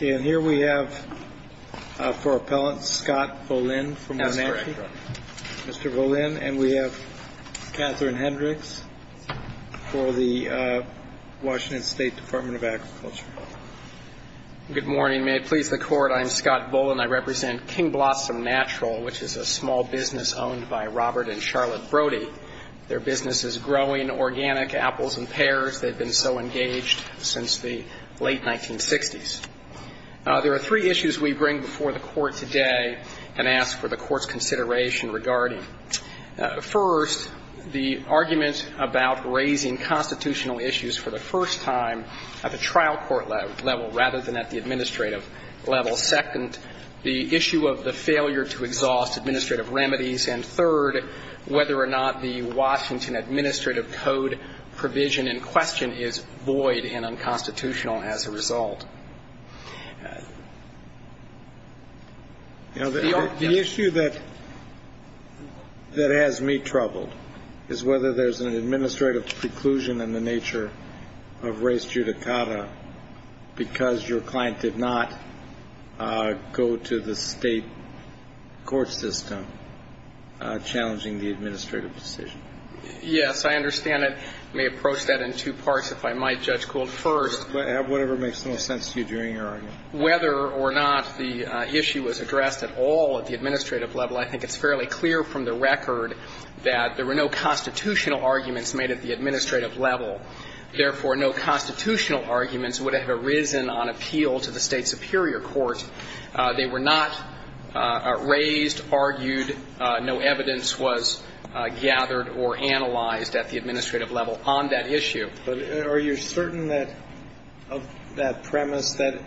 And here we have, for appellant, Scott Volin. Mr. Volin. And we have Catherine Hendricks for the Washington State Department of Agriculture. Good morning. May it please the Court, I'm Scott Volin. I represent King Blossom Natural, which is a small business owned by Robert and Charlotte Brody. Their business is growing organic apples and pears. They've been so engaged since the late 1960s. There are three issues we bring before the Court today and ask for the Court's consideration regarding. First, the argument about raising constitutional issues for the first time at the trial court level, rather than at the administrative level. Second, the issue of the failure to exhaust administrative remedies. And third, whether or not the Washington administrative code provision in question is void and unconstitutional as a result. The issue that has me troubled is whether there's an administrative preclusion in the nature of race judicata because your client did not go to the state court system challenging the administrative decision. Yes, I understand it. May approach that in two parts, if I might, Judge Gould. First. Whatever makes the most sense to you during your argument. Whether or not the issue was addressed at all at the administrative level, I think it's fairly clear from the record that there were no constitutional arguments made at the administrative level. Therefore, no constitutional arguments would have arisen on appeal to the state superior court. They were not raised, argued. No evidence was gathered or analyzed at the administrative level on that issue. But are you certain of that premise? That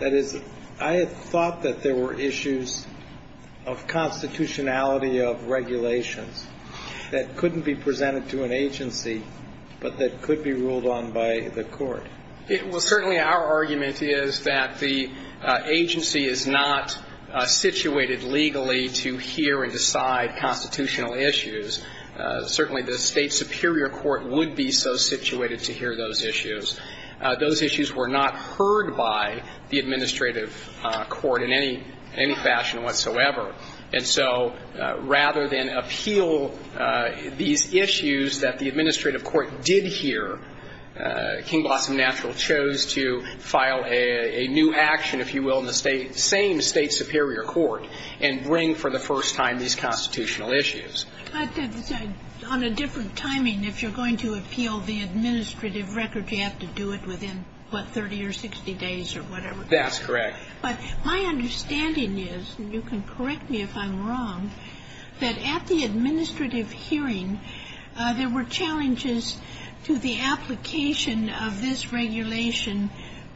is, I had thought that there were issues of constitutionality of regulations that couldn't be presented to an agency, but that could be ruled on by the court. Well, certainly our argument is that the agency is not situated legally to hear and decide constitutional issues. Certainly the state superior court would be so situated to hear those issues. Those issues were not heard by the administrative court in any fashion whatsoever. And so rather than appeal these issues that the administrative court did hear, King Blossom Natural chose to file a new action, if you will, in the same state superior court and bring for the first time these constitutional issues. But on a different timing, if you're going to appeal the administrative record, you have to do it within, what, 30 or 60 days or whatever. That's correct. But my understanding is, and you can correct me if I'm wrong, that at the administrative hearing there were challenges to the application of this regulation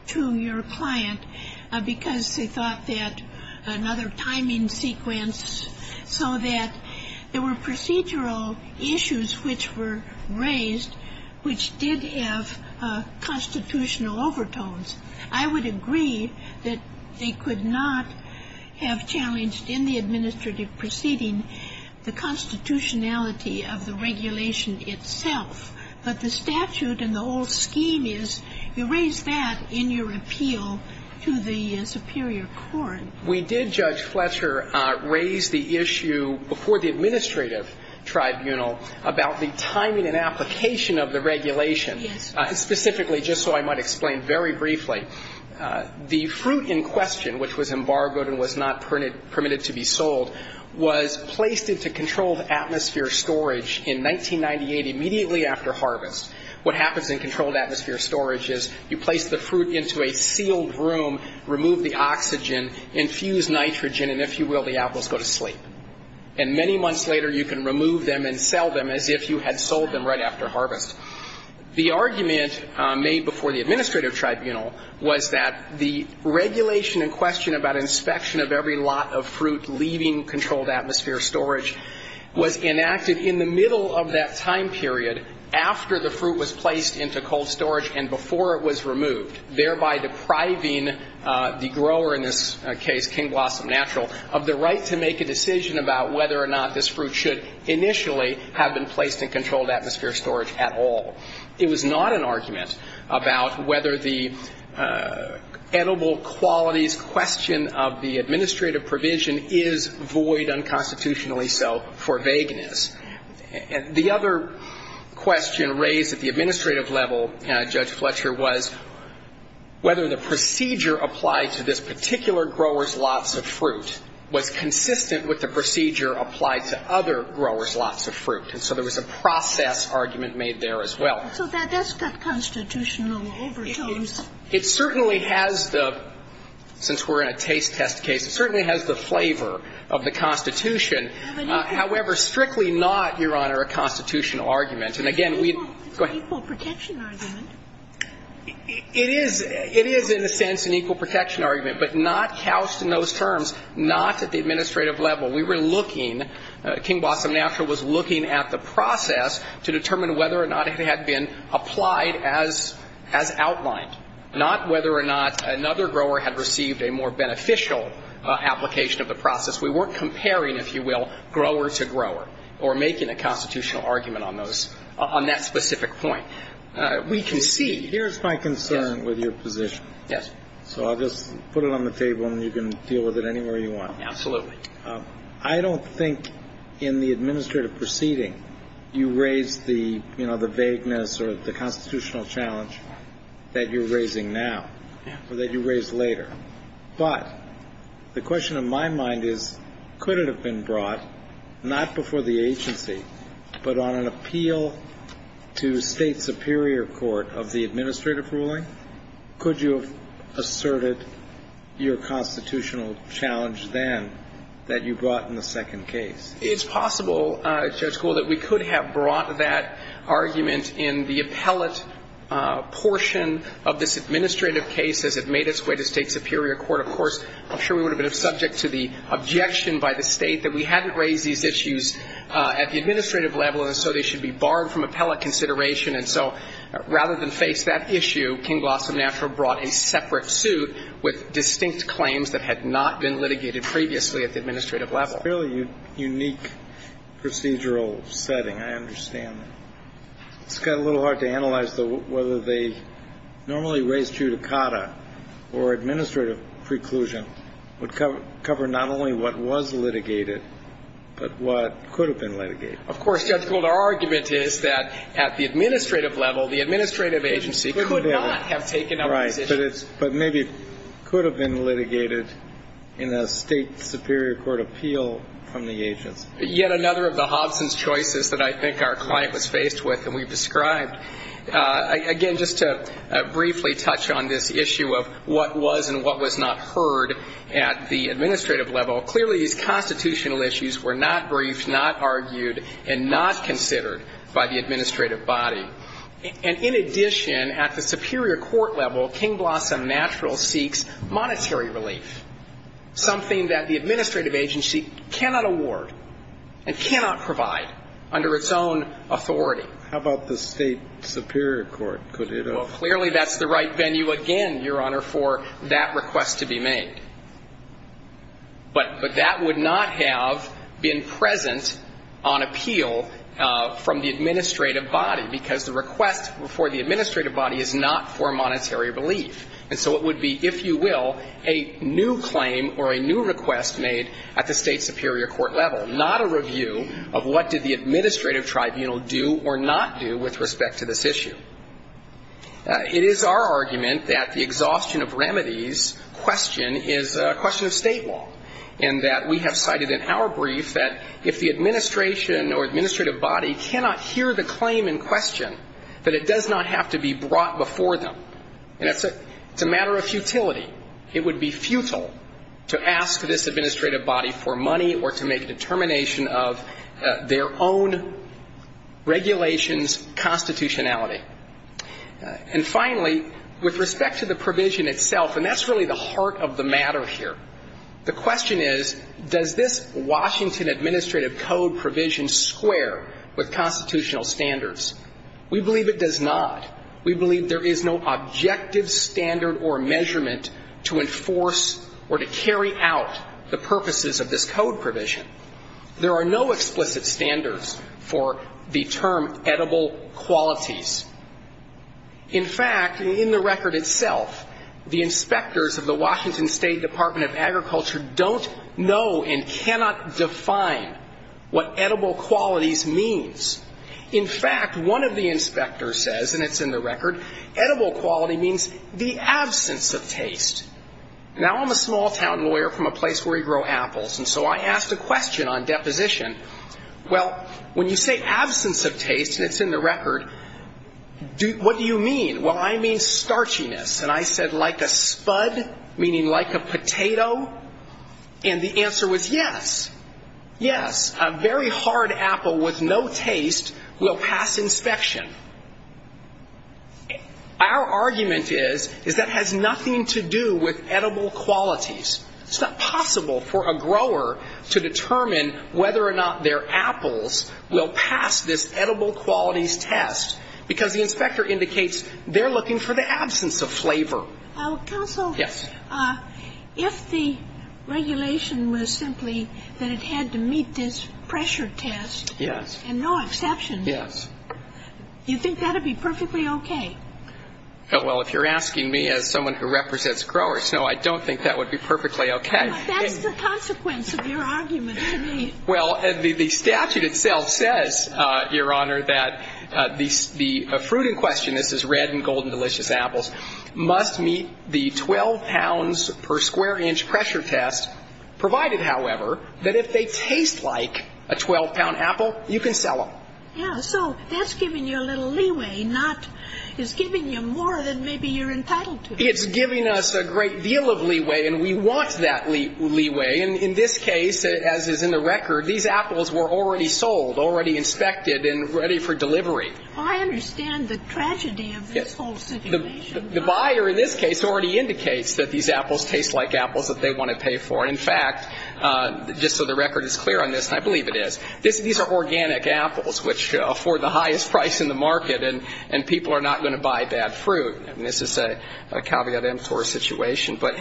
to your client because they thought that another timing sequence, so that there were procedural issues which were raised which did have constitutional overtones. I would agree that they could not have challenged in the administrative proceeding the constitutionality of the regulation itself. But the statute and the whole scheme is you raise that in your appeal to the superior court. We did, Judge Fletcher, raise the issue before the administrative tribunal about the timing and application of the regulation. Yes. Specifically, just so I might explain very briefly, the fruit in question, which was embargoed and was not permitted to be sold, was placed into controlled atmosphere storage in 1998 immediately after harvest. What happens in controlled atmosphere storage is you place the fruit into a sealed room, remove the oxygen, infuse nitrogen, and if you will, the apples go to sleep. And many months later, you can remove them and sell them as if you had sold them right after harvest. The argument made before the administrative tribunal was that the regulation in question about inspection of every lot of fruit leaving controlled atmosphere storage was enacted in the middle of that time period after the fruit was placed into cold storage and before it was removed, thereby depriving the grower in this case, King Blossom Natural, of the right to make a decision about whether or not this fruit should initially have been placed in controlled atmosphere storage at all. It was not an argument about whether the edible qualities question of the administrative provision is void unconstitutionally so for vagueness. The other question raised at the administrative level, Judge Fletcher, was whether the procedure applied to this particular grower's lots of fruit was consistent with the procedure applied to other growers' lots of fruit. And so there was a process argument made there as well. So that's got constitutional overtones. It certainly has the, since we're in a taste test case, it certainly has the flavor of the Constitution. However, strictly not, Your Honor, a constitutional argument. And again, we go ahead. It's an equal protection argument. It is in a sense an equal protection argument, but not couched in those terms, not at the administrative level. We were looking, King Blossom Natural was looking at the process to determine whether or not it had been applied as outlined, not whether or not another grower had received a more beneficial application of the process. We weren't comparing, if you will, grower to grower or making a constitutional argument on those, on that specific point. We can see. Here's my concern with your position. Yes. So I'll just put it on the table and you can deal with it anywhere you want. Absolutely. I don't think in the administrative proceeding you raised the, you know, the vagueness or the constitutional challenge that you're raising now or that you raised later. But the question in my mind is, could it have been brought not before the agency, but on an appeal to state superior court of the administrative ruling? Could you have asserted your constitutional challenge then that you brought in the second case? It's possible, Judge Gould, that we could have brought that argument in the appellate portion of this administrative case as it made its way to state superior court. Of course, I'm sure we would have been subject to the objection by the state that we hadn't raised these issues at the administrative level and so they should be barred from appellate consideration. And so rather than face that issue, King Glossom Natural brought a separate suit with distinct claims that had not been litigated previously at the administrative level. It's a fairly unique procedural setting. I understand that. It's got a little hard to analyze, though, whether they normally raise judicata or administrative preclusion would cover not only what was litigated, but what could have been litigated. Of course, Judge Gould, our argument is that at the administrative level, the administrative agency could not have taken up the decision. Right. But maybe it could have been litigated in a state superior court appeal from the agents. Yet another of the Hobson's choices that I think our client was faced with and we've described. Again, just to briefly touch on this issue of what was and what was not heard at the administrative level, clearly these constitutional issues were not briefed, not argued, and not considered by the administrative body. And in addition, at the superior court level, King Glossom Natural seeks monetary relief, something that the administrative agency cannot award and cannot provide under its own authority. How about the state superior court? Well, clearly that's the right venue again, Your Honor, for that request to be made. But that would not have been present on appeal from the administrative body, because the request for the administrative body is not for monetary relief. And so it would be, if you will, a new claim or a new request made at the state superior court level, not a review of what did the administrative tribunal do or not do with respect to this issue. It is our argument that the exhaustion of remedies question is a question of state law, and that we have cited in our brief that if the administration or administrative body cannot hear the claim in question, that it does not have to be brought before them. And it's a matter of futility. It would be futile to ask this administrative body for money or to make a determination of their own regulation's constitutionality. And finally, with respect to the provision itself, and that's really the heart of the matter here, the question is, does this Washington administrative code provision square with constitutional standards? We believe it does not. We believe there is no objective standard or measurement to enforce or to carry out the purposes of this code provision. There are no explicit standards for the term edible qualities. In fact, in the record itself, the inspectors of the Washington State Department of Agriculture don't know and cannot define what edible qualities means. In fact, one of the inspectors says, and it's in the record, edible quality means the absence of taste. Now I'm a small-town lawyer from a place where we grow apples. And so I asked a question on deposition. Well, when you say absence of taste, and it's in the record, what do you mean? Well, I mean starchiness. And I said like a spud, meaning like a potato. And the answer was yes, yes. A very hard apple with no taste will pass inspection. Our argument is, is that has nothing to do with edible qualities. It's not possible for a grower to determine whether or not their apples will pass this edible qualities test, because the inspector indicates they're looking for the absence of flavor. Counsel. Yes. If the regulation was simply that it had to meet this pressure test. Yes. And no exceptions. Yes. You think that would be perfectly okay? Well, if you're asking me as someone who represents growers, no, I don't think that would be perfectly okay. That's the consequence of your argument to me. Well, the statute itself says, Your Honor, that the fruit in question, this is red and golden delicious apples, must meet the 12 pounds per square inch pressure test, provided, however, that if they taste like a 12-pound apple, you can sell them. Yeah. So that's giving you a little leeway, not, it's giving you more than maybe you're entitled to. It's giving us a great deal of leeway, and we want that leeway. And in this case, as is in the record, these apples were already sold, already inspected and ready for delivery. I understand the tragedy of this whole situation. The buyer in this case already indicates that these apples taste like apples that they want to pay for. In fact, just so the record is clear on this, and I believe it is, these are organic apples which afford the highest price in the market, and people are not going to buy bad fruit. And this is a caveat emptor situation. But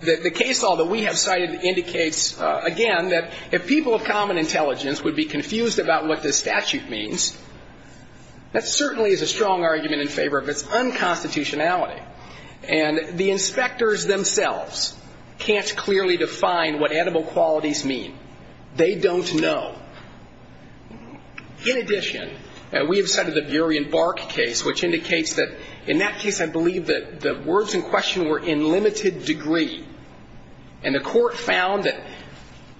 the case law that we have cited indicates, again, that if people of common intelligence would be confused about what this statute means, that certainly is a strong argument in favor of its unconstitutionality. And the inspectors themselves can't clearly define what edible qualities mean. They don't know. In addition, we have cited the Burien Bark case, which indicates that, in that case, I believe that the words in question were in limited degree, and the court found that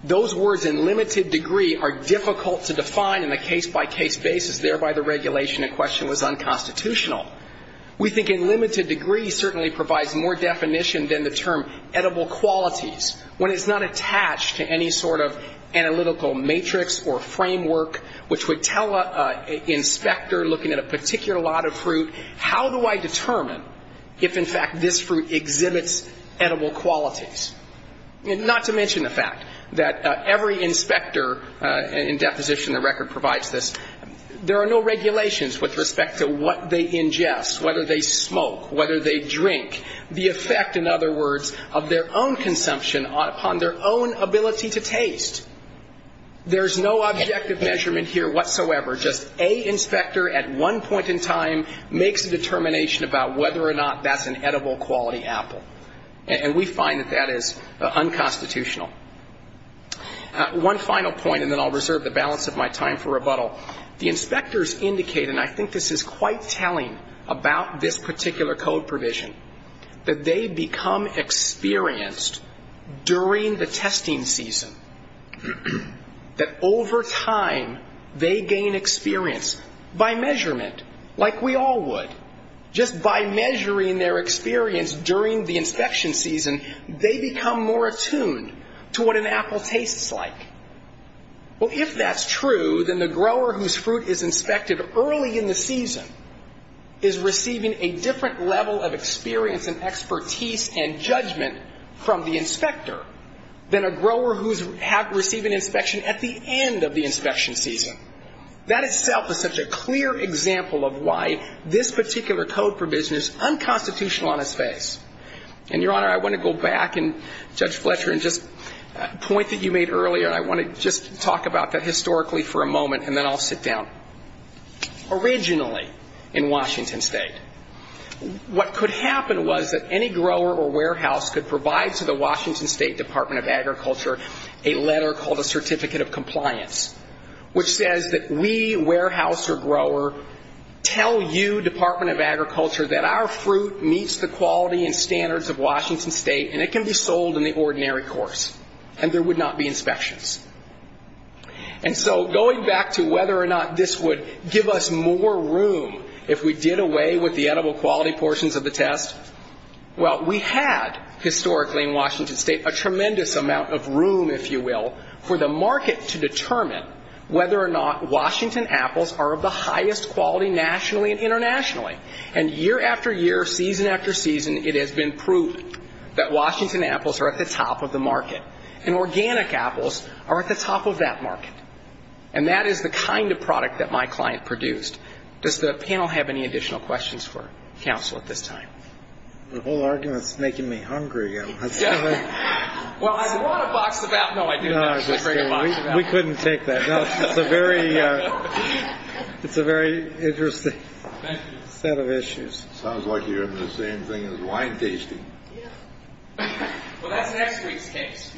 those words in limited degree are difficult to define in a case-by-case basis, thereby the regulation in question was unconstitutional. We think in limited degree certainly provides more definition than the term edible qualities. When it's not attached to any sort of analytical matrix or framework, which would tell an inspector looking at a particular lot of fruit, how do I determine if, in fact, this fruit exhibits edible qualities? Not to mention the fact that every inspector in deposition, the record provides this, there are no regulations with respect to what they ingest, whether they smoke, whether they drink, the effect, in other words, of their own consumption upon their own ability to taste. There's no objective measurement here whatsoever. Just a inspector at one point in time makes a determination about whether or not that's an edible quality apple. And we find that that is unconstitutional. One final point, and then I'll reserve the balance of my time for rebuttal. The inspectors indicate, and I think this is quite telling about this particular code provision, that they become experienced during the testing season, that over time they gain experience by measurement, like we all would. Just by measuring their experience during the inspection season, they become more attuned to what an apple tastes like. Well, if that's true, then the grower whose fruit is inspected early in the season is receiving a different level of experience and expertise and judgment from the inspector than a grower who's receiving inspection at the end of the inspection season. That itself is such a clear example of why this particular code provision is unconstitutional on its face. And, Your Honor, I want to go back, and Judge Fletcher, and just a point that you made earlier, and I want to just talk about that historically for a moment, and then I'll sit down. Originally in Washington State, what could happen was that any grower or warehouse could provide to the Washington State Department of Agriculture a letter called a Certificate of Compliance, which says that we, warehouse or grower, tell you, Department of Agriculture, that our fruit meets the quality and standards of Washington State, and it can be sold in the ordinary course, and there would not be inspections. And so going back to whether or not this would give us more room if we did away with the edible quality portions of the test, well, we had, historically in Washington State, a tremendous amount of room, if you will, for the market to determine whether or not Washington apples are of the highest quality nationally and internationally. And year after year, season after season, it has been proved that Washington apples are at the top of the market, and organic apples are at the top of that market. And that is the kind of product that my client produced. Does the panel have any additional questions for counsel at this time? The whole argument is making me hungry. Well, I brought a box of apples. No, I didn't. We couldn't take that. It's a very interesting. Thank you. Set of issues. Sounds like you're in the same thing as wine tasting. Yeah. Well, that's next week's case.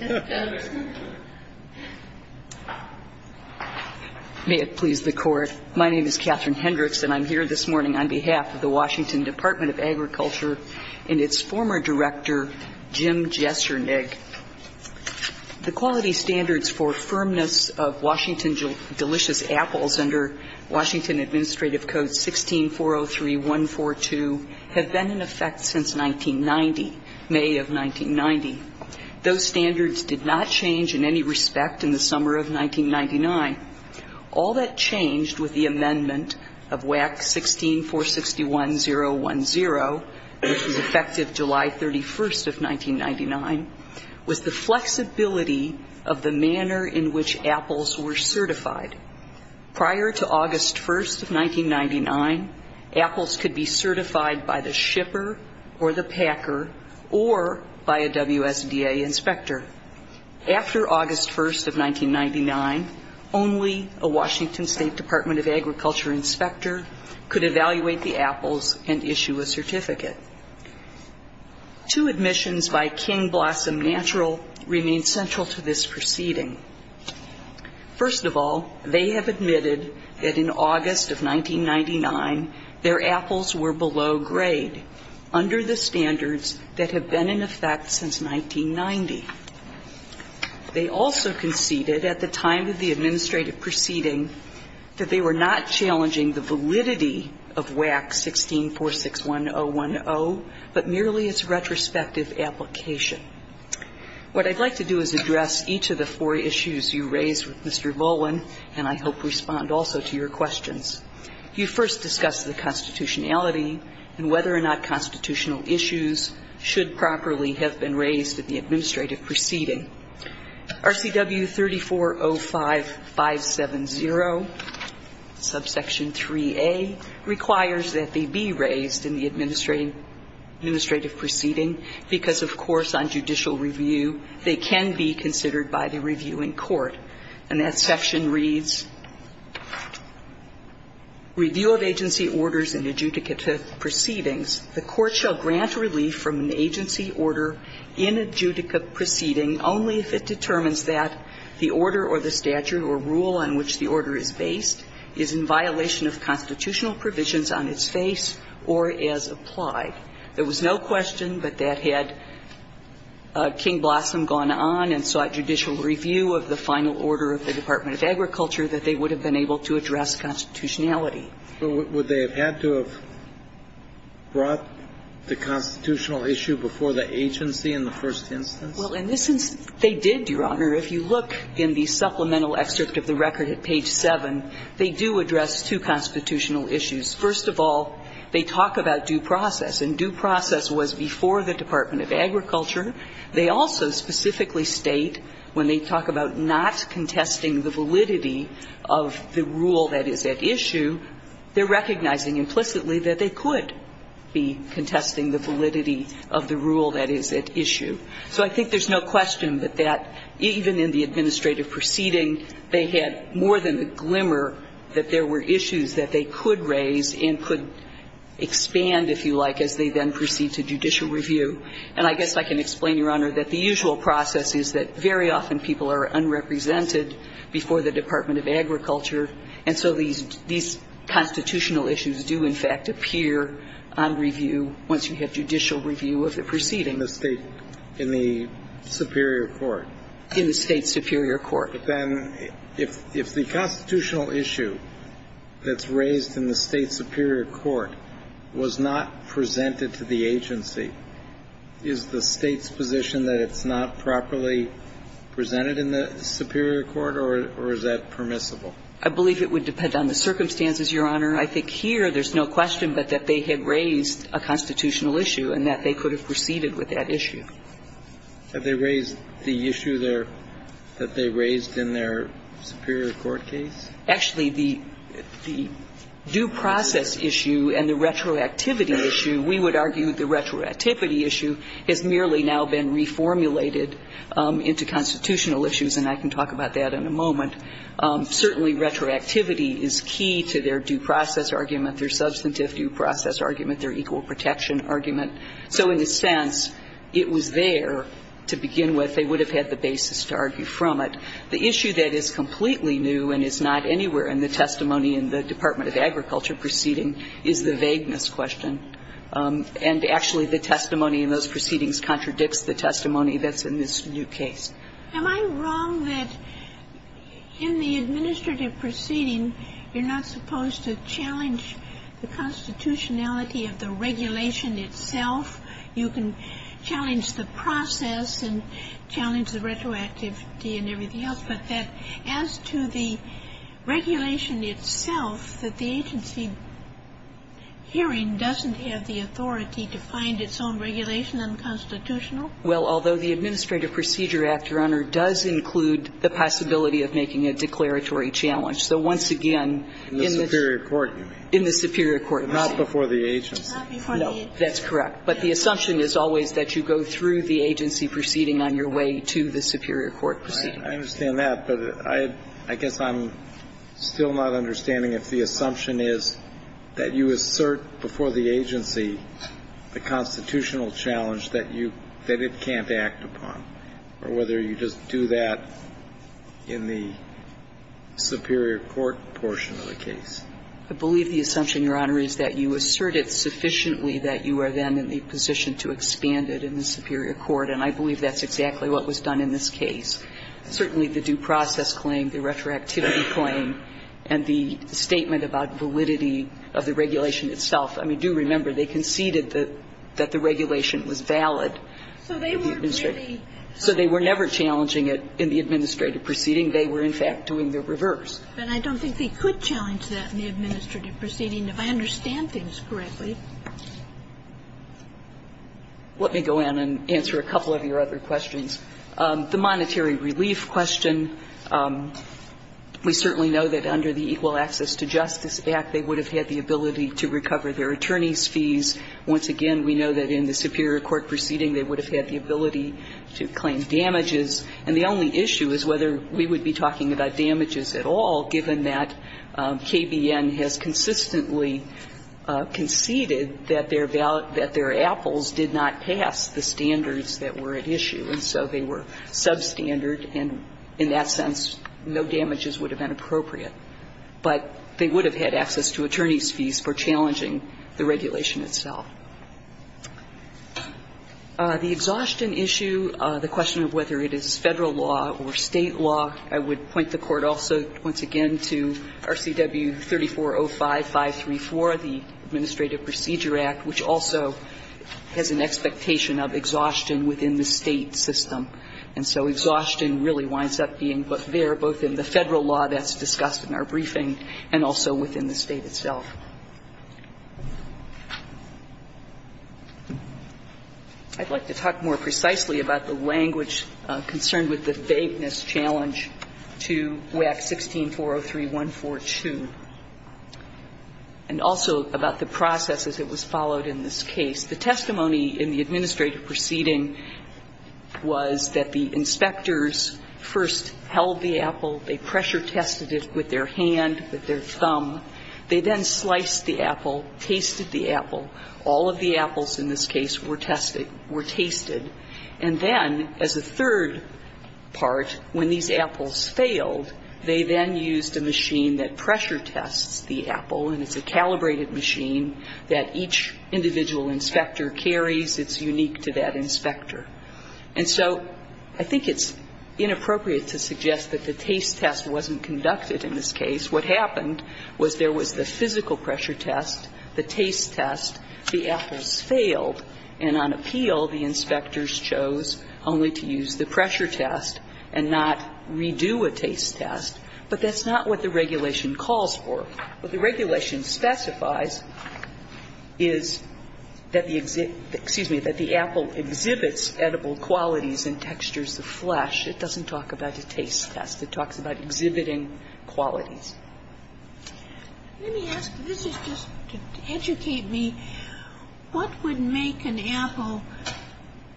May it please the Court. My name is Catherine Hendricks, and I'm here this morning on behalf of the Washington Department of Agriculture and its former director, Jim Jessernig. The quality standards for firmness of Washington delicious apples under Washington Administrative Code 16403142 have been in effect since 1990, May of 1990. Those standards did not change in any respect in the summer of 1999. All that changed with the amendment of WAC 16461010, which was effective July 31st of 1999, was the flexibility of the manner in which apples were certified. Prior to August 1st of 1999, apples could be certified by the shipper or the packer or by a WSDA inspector. After August 1st of 1999, only a Washington State Department of Agriculture inspector could evaluate the apples and issue a certificate. Two admissions by King Blossom Natural remain central to this proceeding. First of all, they have admitted that in August of 1999, their apples were below grade under the standards that have been in effect since 1990. They also conceded at the time of the administrative proceeding that they were not challenging the validity of WAC 16461010, but merely its retrospective application. What I'd like to do is address each of the four issues you raised with Mr. Volwin, and I hope respond also to your questions. You first discussed the constitutionality and whether or not constitutional issues should properly have been raised at the administrative proceeding. RCW 3405570, subsection 3A, requires that they be raised in the administrative proceeding because, of course, on the basis of a judicial review, they can be considered by the reviewing court. And that section reads, review of agency orders and adjudicative proceedings. The court shall grant relief from an agency order in adjudicative proceeding only if it determines that the order or the statute or rule on which the order is based is in violation of constitutional And so I think it's important to note that if they had not had King Blossom gone on and sought judicial review of the final order of the Department of Agriculture, that they would have been able to address constitutionality. But would they have had to have brought the constitutional issue before the agency in the first instance? Well, in this instance, they did, Your Honor. If you look in the supplemental excerpt of the record at page 7, they do address two constitutional issues. First of all, they talk about due process. And due process was before the Department of Agriculture. They also specifically state when they talk about not contesting the validity of the rule that is at issue, they're recognizing implicitly that they could be contesting the validity of the rule that is at issue. So I think there's no question that that, even in the administrative proceeding, they had more than the glimmer that there were issues that they could raise and could expand, if you like, as they then proceed to judicial review. And I guess I can explain, Your Honor, that the usual process is that very often people are unrepresented before the Department of Agriculture, and so these constitutional issues do, in fact, appear on review once you have judicial review of the proceeding. In the state, in the superior court? In the state superior court. But then if the constitutional issue that's raised in the state superior court was not presented to the agency, is the State's position that it's not properly presented in the superior court, or is that permissible? I believe it would depend on the circumstances, Your Honor. I think here there's no question but that they had raised a constitutional issue and that they could have proceeded with that issue. Have they raised the issue there that they raised in their superior court case? Actually, the due process issue and the retroactivity issue, we would argue the retroactivity issue has merely now been reformulated into constitutional issues, and I can talk about that in a moment. Certainly retroactivity is key to their due process argument, their substantive due process argument, their equal protection argument. So in a sense, it was there to begin with. They would have had the basis to argue from it. The issue that is completely new and is not anywhere in the testimony in the Department of Agriculture proceeding is the vagueness question. And actually, the testimony in those proceedings contradicts the testimony that's in this new case. Am I wrong that in the administrative proceeding, you're not supposed to challenge the constitutionality of the regulation itself? You can challenge the process and challenge the retroactivity and everything else, but that as to the regulation itself, that the agency hearing doesn't have the authority to find its own regulation unconstitutional? Well, although the Administrative Procedure Act, Your Honor, does include the possibility of making a declaratory challenge. So once again, in the superior court. In the superior court. Not before the agency. No. That's correct. But the assumption is always that you go through the agency proceeding on your way to the superior court proceeding. I understand that, but I guess I'm still not understanding if the assumption is that you assert before the agency the constitutional challenge that it can't act upon, or whether you just do that in the superior court portion of the case. I believe the assumption, Your Honor, is that you assert it sufficiently that you are then in the position to expand it in the superior court. And I believe that's exactly what was done in this case. Certainly, the due process claim, the retroactivity claim, and the statement about validity of the regulation itself. I mean, do remember, they conceded that the regulation was valid. So they were never challenging it in the administrative proceeding. They were, in fact, doing the reverse. But I don't think they could challenge that in the administrative proceeding, if I understand things correctly. Let me go in and answer a couple of your other questions. The monetary relief question. We certainly know that under the Equal Access to Justice Act, they would have had the ability to recover their attorney's fees. Once again, we know that in the superior court proceeding, they would have had the ability to claim damages. And the only issue is whether we would be talking about damages at all, given that KBN has consistently conceded that their apples did not pass the standards that were at issue, and so they were substandard. And in that sense, no damages would have been appropriate. But they would have had access to attorney's fees for challenging the regulation itself. The exhaustion issue, the question of whether it is Federal law or State law, I would point the Court also once again to RCW 3405-534, the Administrative Procedure Act, which also has an expectation of exhaustion within the State system. And so exhaustion really winds up being both there, both in the Federal law that's discussed in our briefing, and also within the State itself. I'd like to talk more precisely about the language concerned with the vapeness challenge to WAC 16-403-142, and also about the process as it was followed in this case. The testimony in the administrative proceeding was that the inspectors first held the apple, they pressure tested it with their hand, with their thumb. They then sliced the apple, tasted the apple. All of the apples in this case were tested, were tasted. And then as a third part, when these apples failed, they then used a machine that pressure tests the apple, and it's a calibrated machine that each individual inspector carries. It's unique to that inspector. And so I think it's inappropriate to suggest that the taste test wasn't conducted in this case. What happened was there was the physical pressure test, the taste test, the apples failed, and on appeal, the inspectors chose only to use the pressure test and not redo a taste test. But that's not what the regulation calls for. What the regulation specifies is that the exhibit – excuse me, that the apple exhibits edible qualities and textures the flesh. It doesn't talk about a taste test. It talks about exhibiting qualities. Let me ask, this is just to educate me, what would make an apple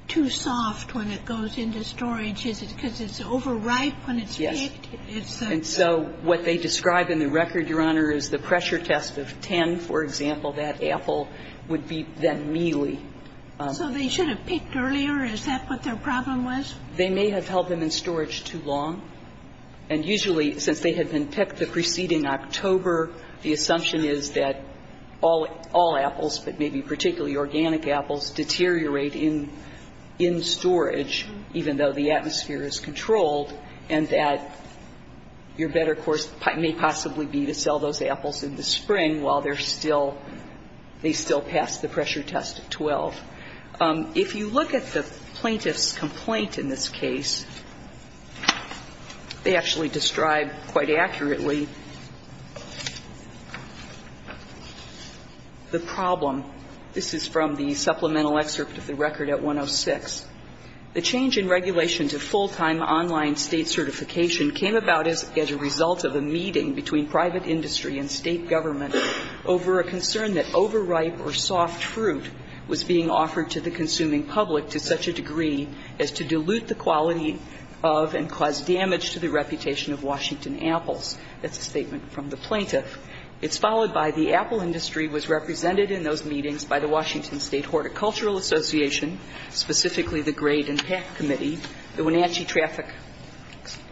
too soft when it goes into storage? Is it because it's overripe when it's picked? Yes. And so what they describe in the record, Your Honor, is the pressure test of 10, for example, that apple would be then mealy. So they should have picked earlier? Is that what their problem was? They may have held them in storage too long. And usually, since they had been picked the preceding October, the assumption is that all apples, but maybe particularly organic apples, deteriorate in storage, even though the atmosphere is controlled, and that your better course may possibly be to sell those apples in the spring while they're still – they still pass the pressure test at 12. If you look at the plaintiff's complaint in this case, they actually describe quite accurately the problem. This is from the supplemental excerpt of the record at 106. The change in regulation to full-time online State certification came about as a result of a meeting between private industry and State government over a concern that was offered to the consuming public to such a degree as to dilute the quality of and cause damage to the reputation of Washington apples. That's a statement from the plaintiff. It's followed by the apple industry was represented in those meetings by the Washington State Horticultural Association, specifically the Grade and Pack Committee, the Wenatchee Traffic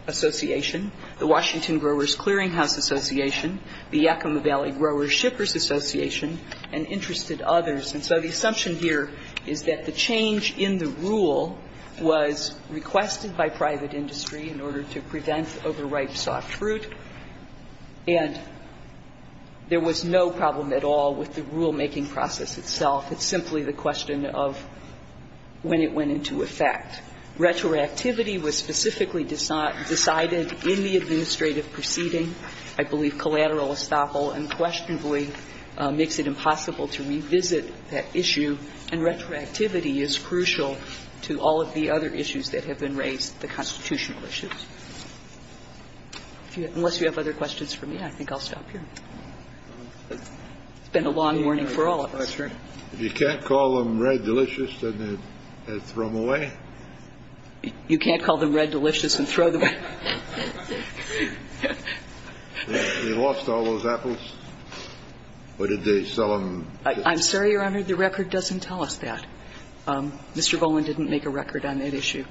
Association, the Washington Growers Clearing House Association, the Yakima Valley Growers Shippers Association, and interested others. And so the assumption here is that the change in the rule was requested by private industry in order to prevent overripe soft fruit, and there was no problem at all with the rulemaking process itself. It's simply the question of when it went into effect. Retroactivity was specifically decided in the administrative proceeding. I believe collateral estoppel unquestionably makes it impossible to revisit that issue, and retroactivity is crucial to all of the other issues that have been raised, the constitutional issues. Unless you have other questions for me, I think I'll stop here. It's been a long morning for all of us. You can't call them red delicious and throw them away? You can't call them red delicious and throw them away. They lost all those apples, or did they sell them? I'm sorry, Your Honor. The record doesn't tell us that. Mr. Golan didn't make a record on that issue.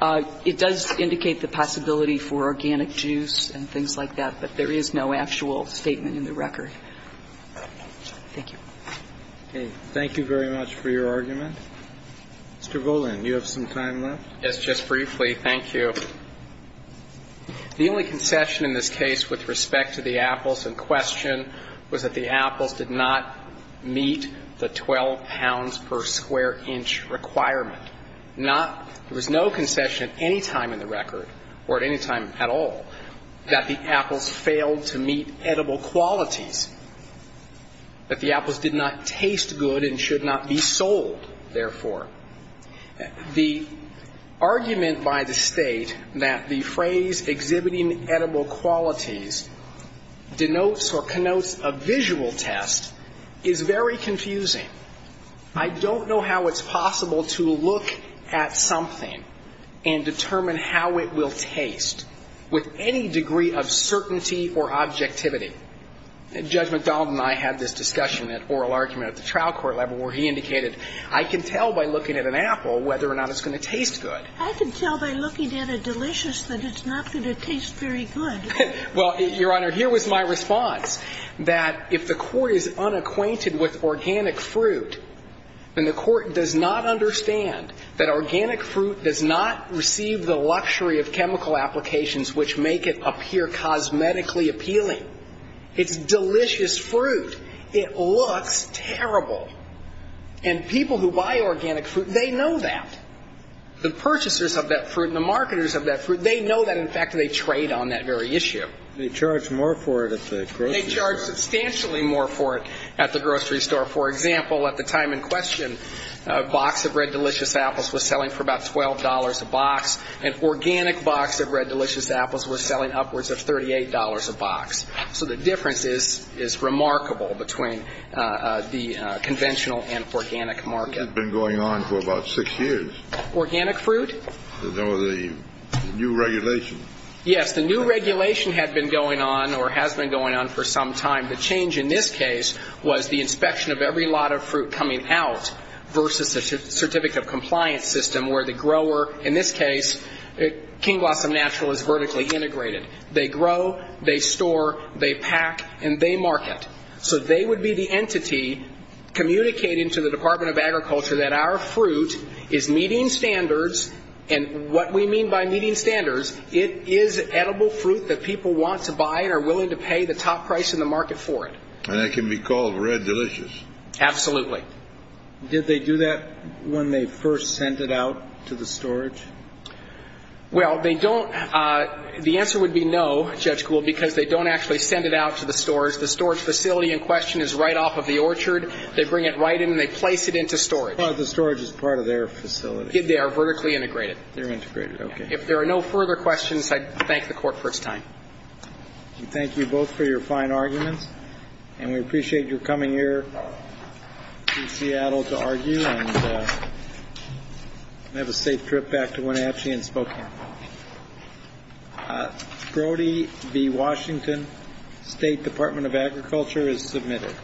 It does indicate the possibility for organic juice and things like that, but there is no actual statement in the record. Thank you. Okay. Thank you very much for your argument. Mr. Golan, you have some time left. Yes, just briefly. Thank you. The only concession in this case with respect to the apples in question was that the apples did not meet the 12 pounds per square inch requirement. Not – there was no concession at any time in the record, or at any time at all, that the apples failed to meet edible qualities, that the apples did not taste good and should not be sold, therefore. The argument by the State that the phrase exhibiting edible qualities denotes or connotes a visual test is very confusing. I don't know how it's possible to look at something and determine how it will taste with any degree of certainty or objectivity. Judge McDonald and I had this discussion, that oral argument at the trial court level where he indicated, I can tell by looking at an apple whether or not it's going to taste good. I can tell by looking at a delicious that it's not going to taste very good. Well, Your Honor, here was my response, that if the court is unacquainted with organic fruit, then the court does not understand that organic fruit does not receive the luxury of chemical applications which make it appear cosmetically appealing. It's delicious fruit. It looks terrible. And people who buy organic fruit, they know that. The purchasers of that fruit and the marketers of that fruit, they know that, in fact, they trade on that very issue. They charge more for it at the grocery store. They charge substantially more for it at the grocery store. For example, at the time in question, a box of Red Delicious apples was selling for about $12 a box. An organic box of Red Delicious apples was selling upwards of $38 a box. So the difference is remarkable between the conventional and organic market. It had been going on for about six years. Organic fruit? No, the new regulation. Yes, the new regulation had been going on or has been going on for some time. The change in this case was the inspection of every lot of fruit coming out versus a certificate of compliance system where the grower, in this case, King Blossom Natural is vertically integrated. They grow, they store, they pack, and they market. So they would be the entity communicating to the Department of Agriculture that our fruit is meeting standards. And what we mean by meeting standards, it is edible fruit that people want to buy and are willing to pay the top price in the market for it. And it can be called Red Delicious. Absolutely. Did they do that when they first sent it out to the storage? Well, they don't. The answer would be no, Judge Gould, because they don't actually send it out to the storage. The storage facility in question is right off of the orchard. They bring it right in and they place it into storage. The storage is part of their facility. They are vertically integrated. They're integrated. Okay. If there are no further questions, I thank the Court for its time. Thank you both for your fine arguments. And we appreciate your coming here from Seattle to argue and have a safe trip back to Wenatchee and Spokane. Brody B. Washington, State Department of Agriculture, is submitted.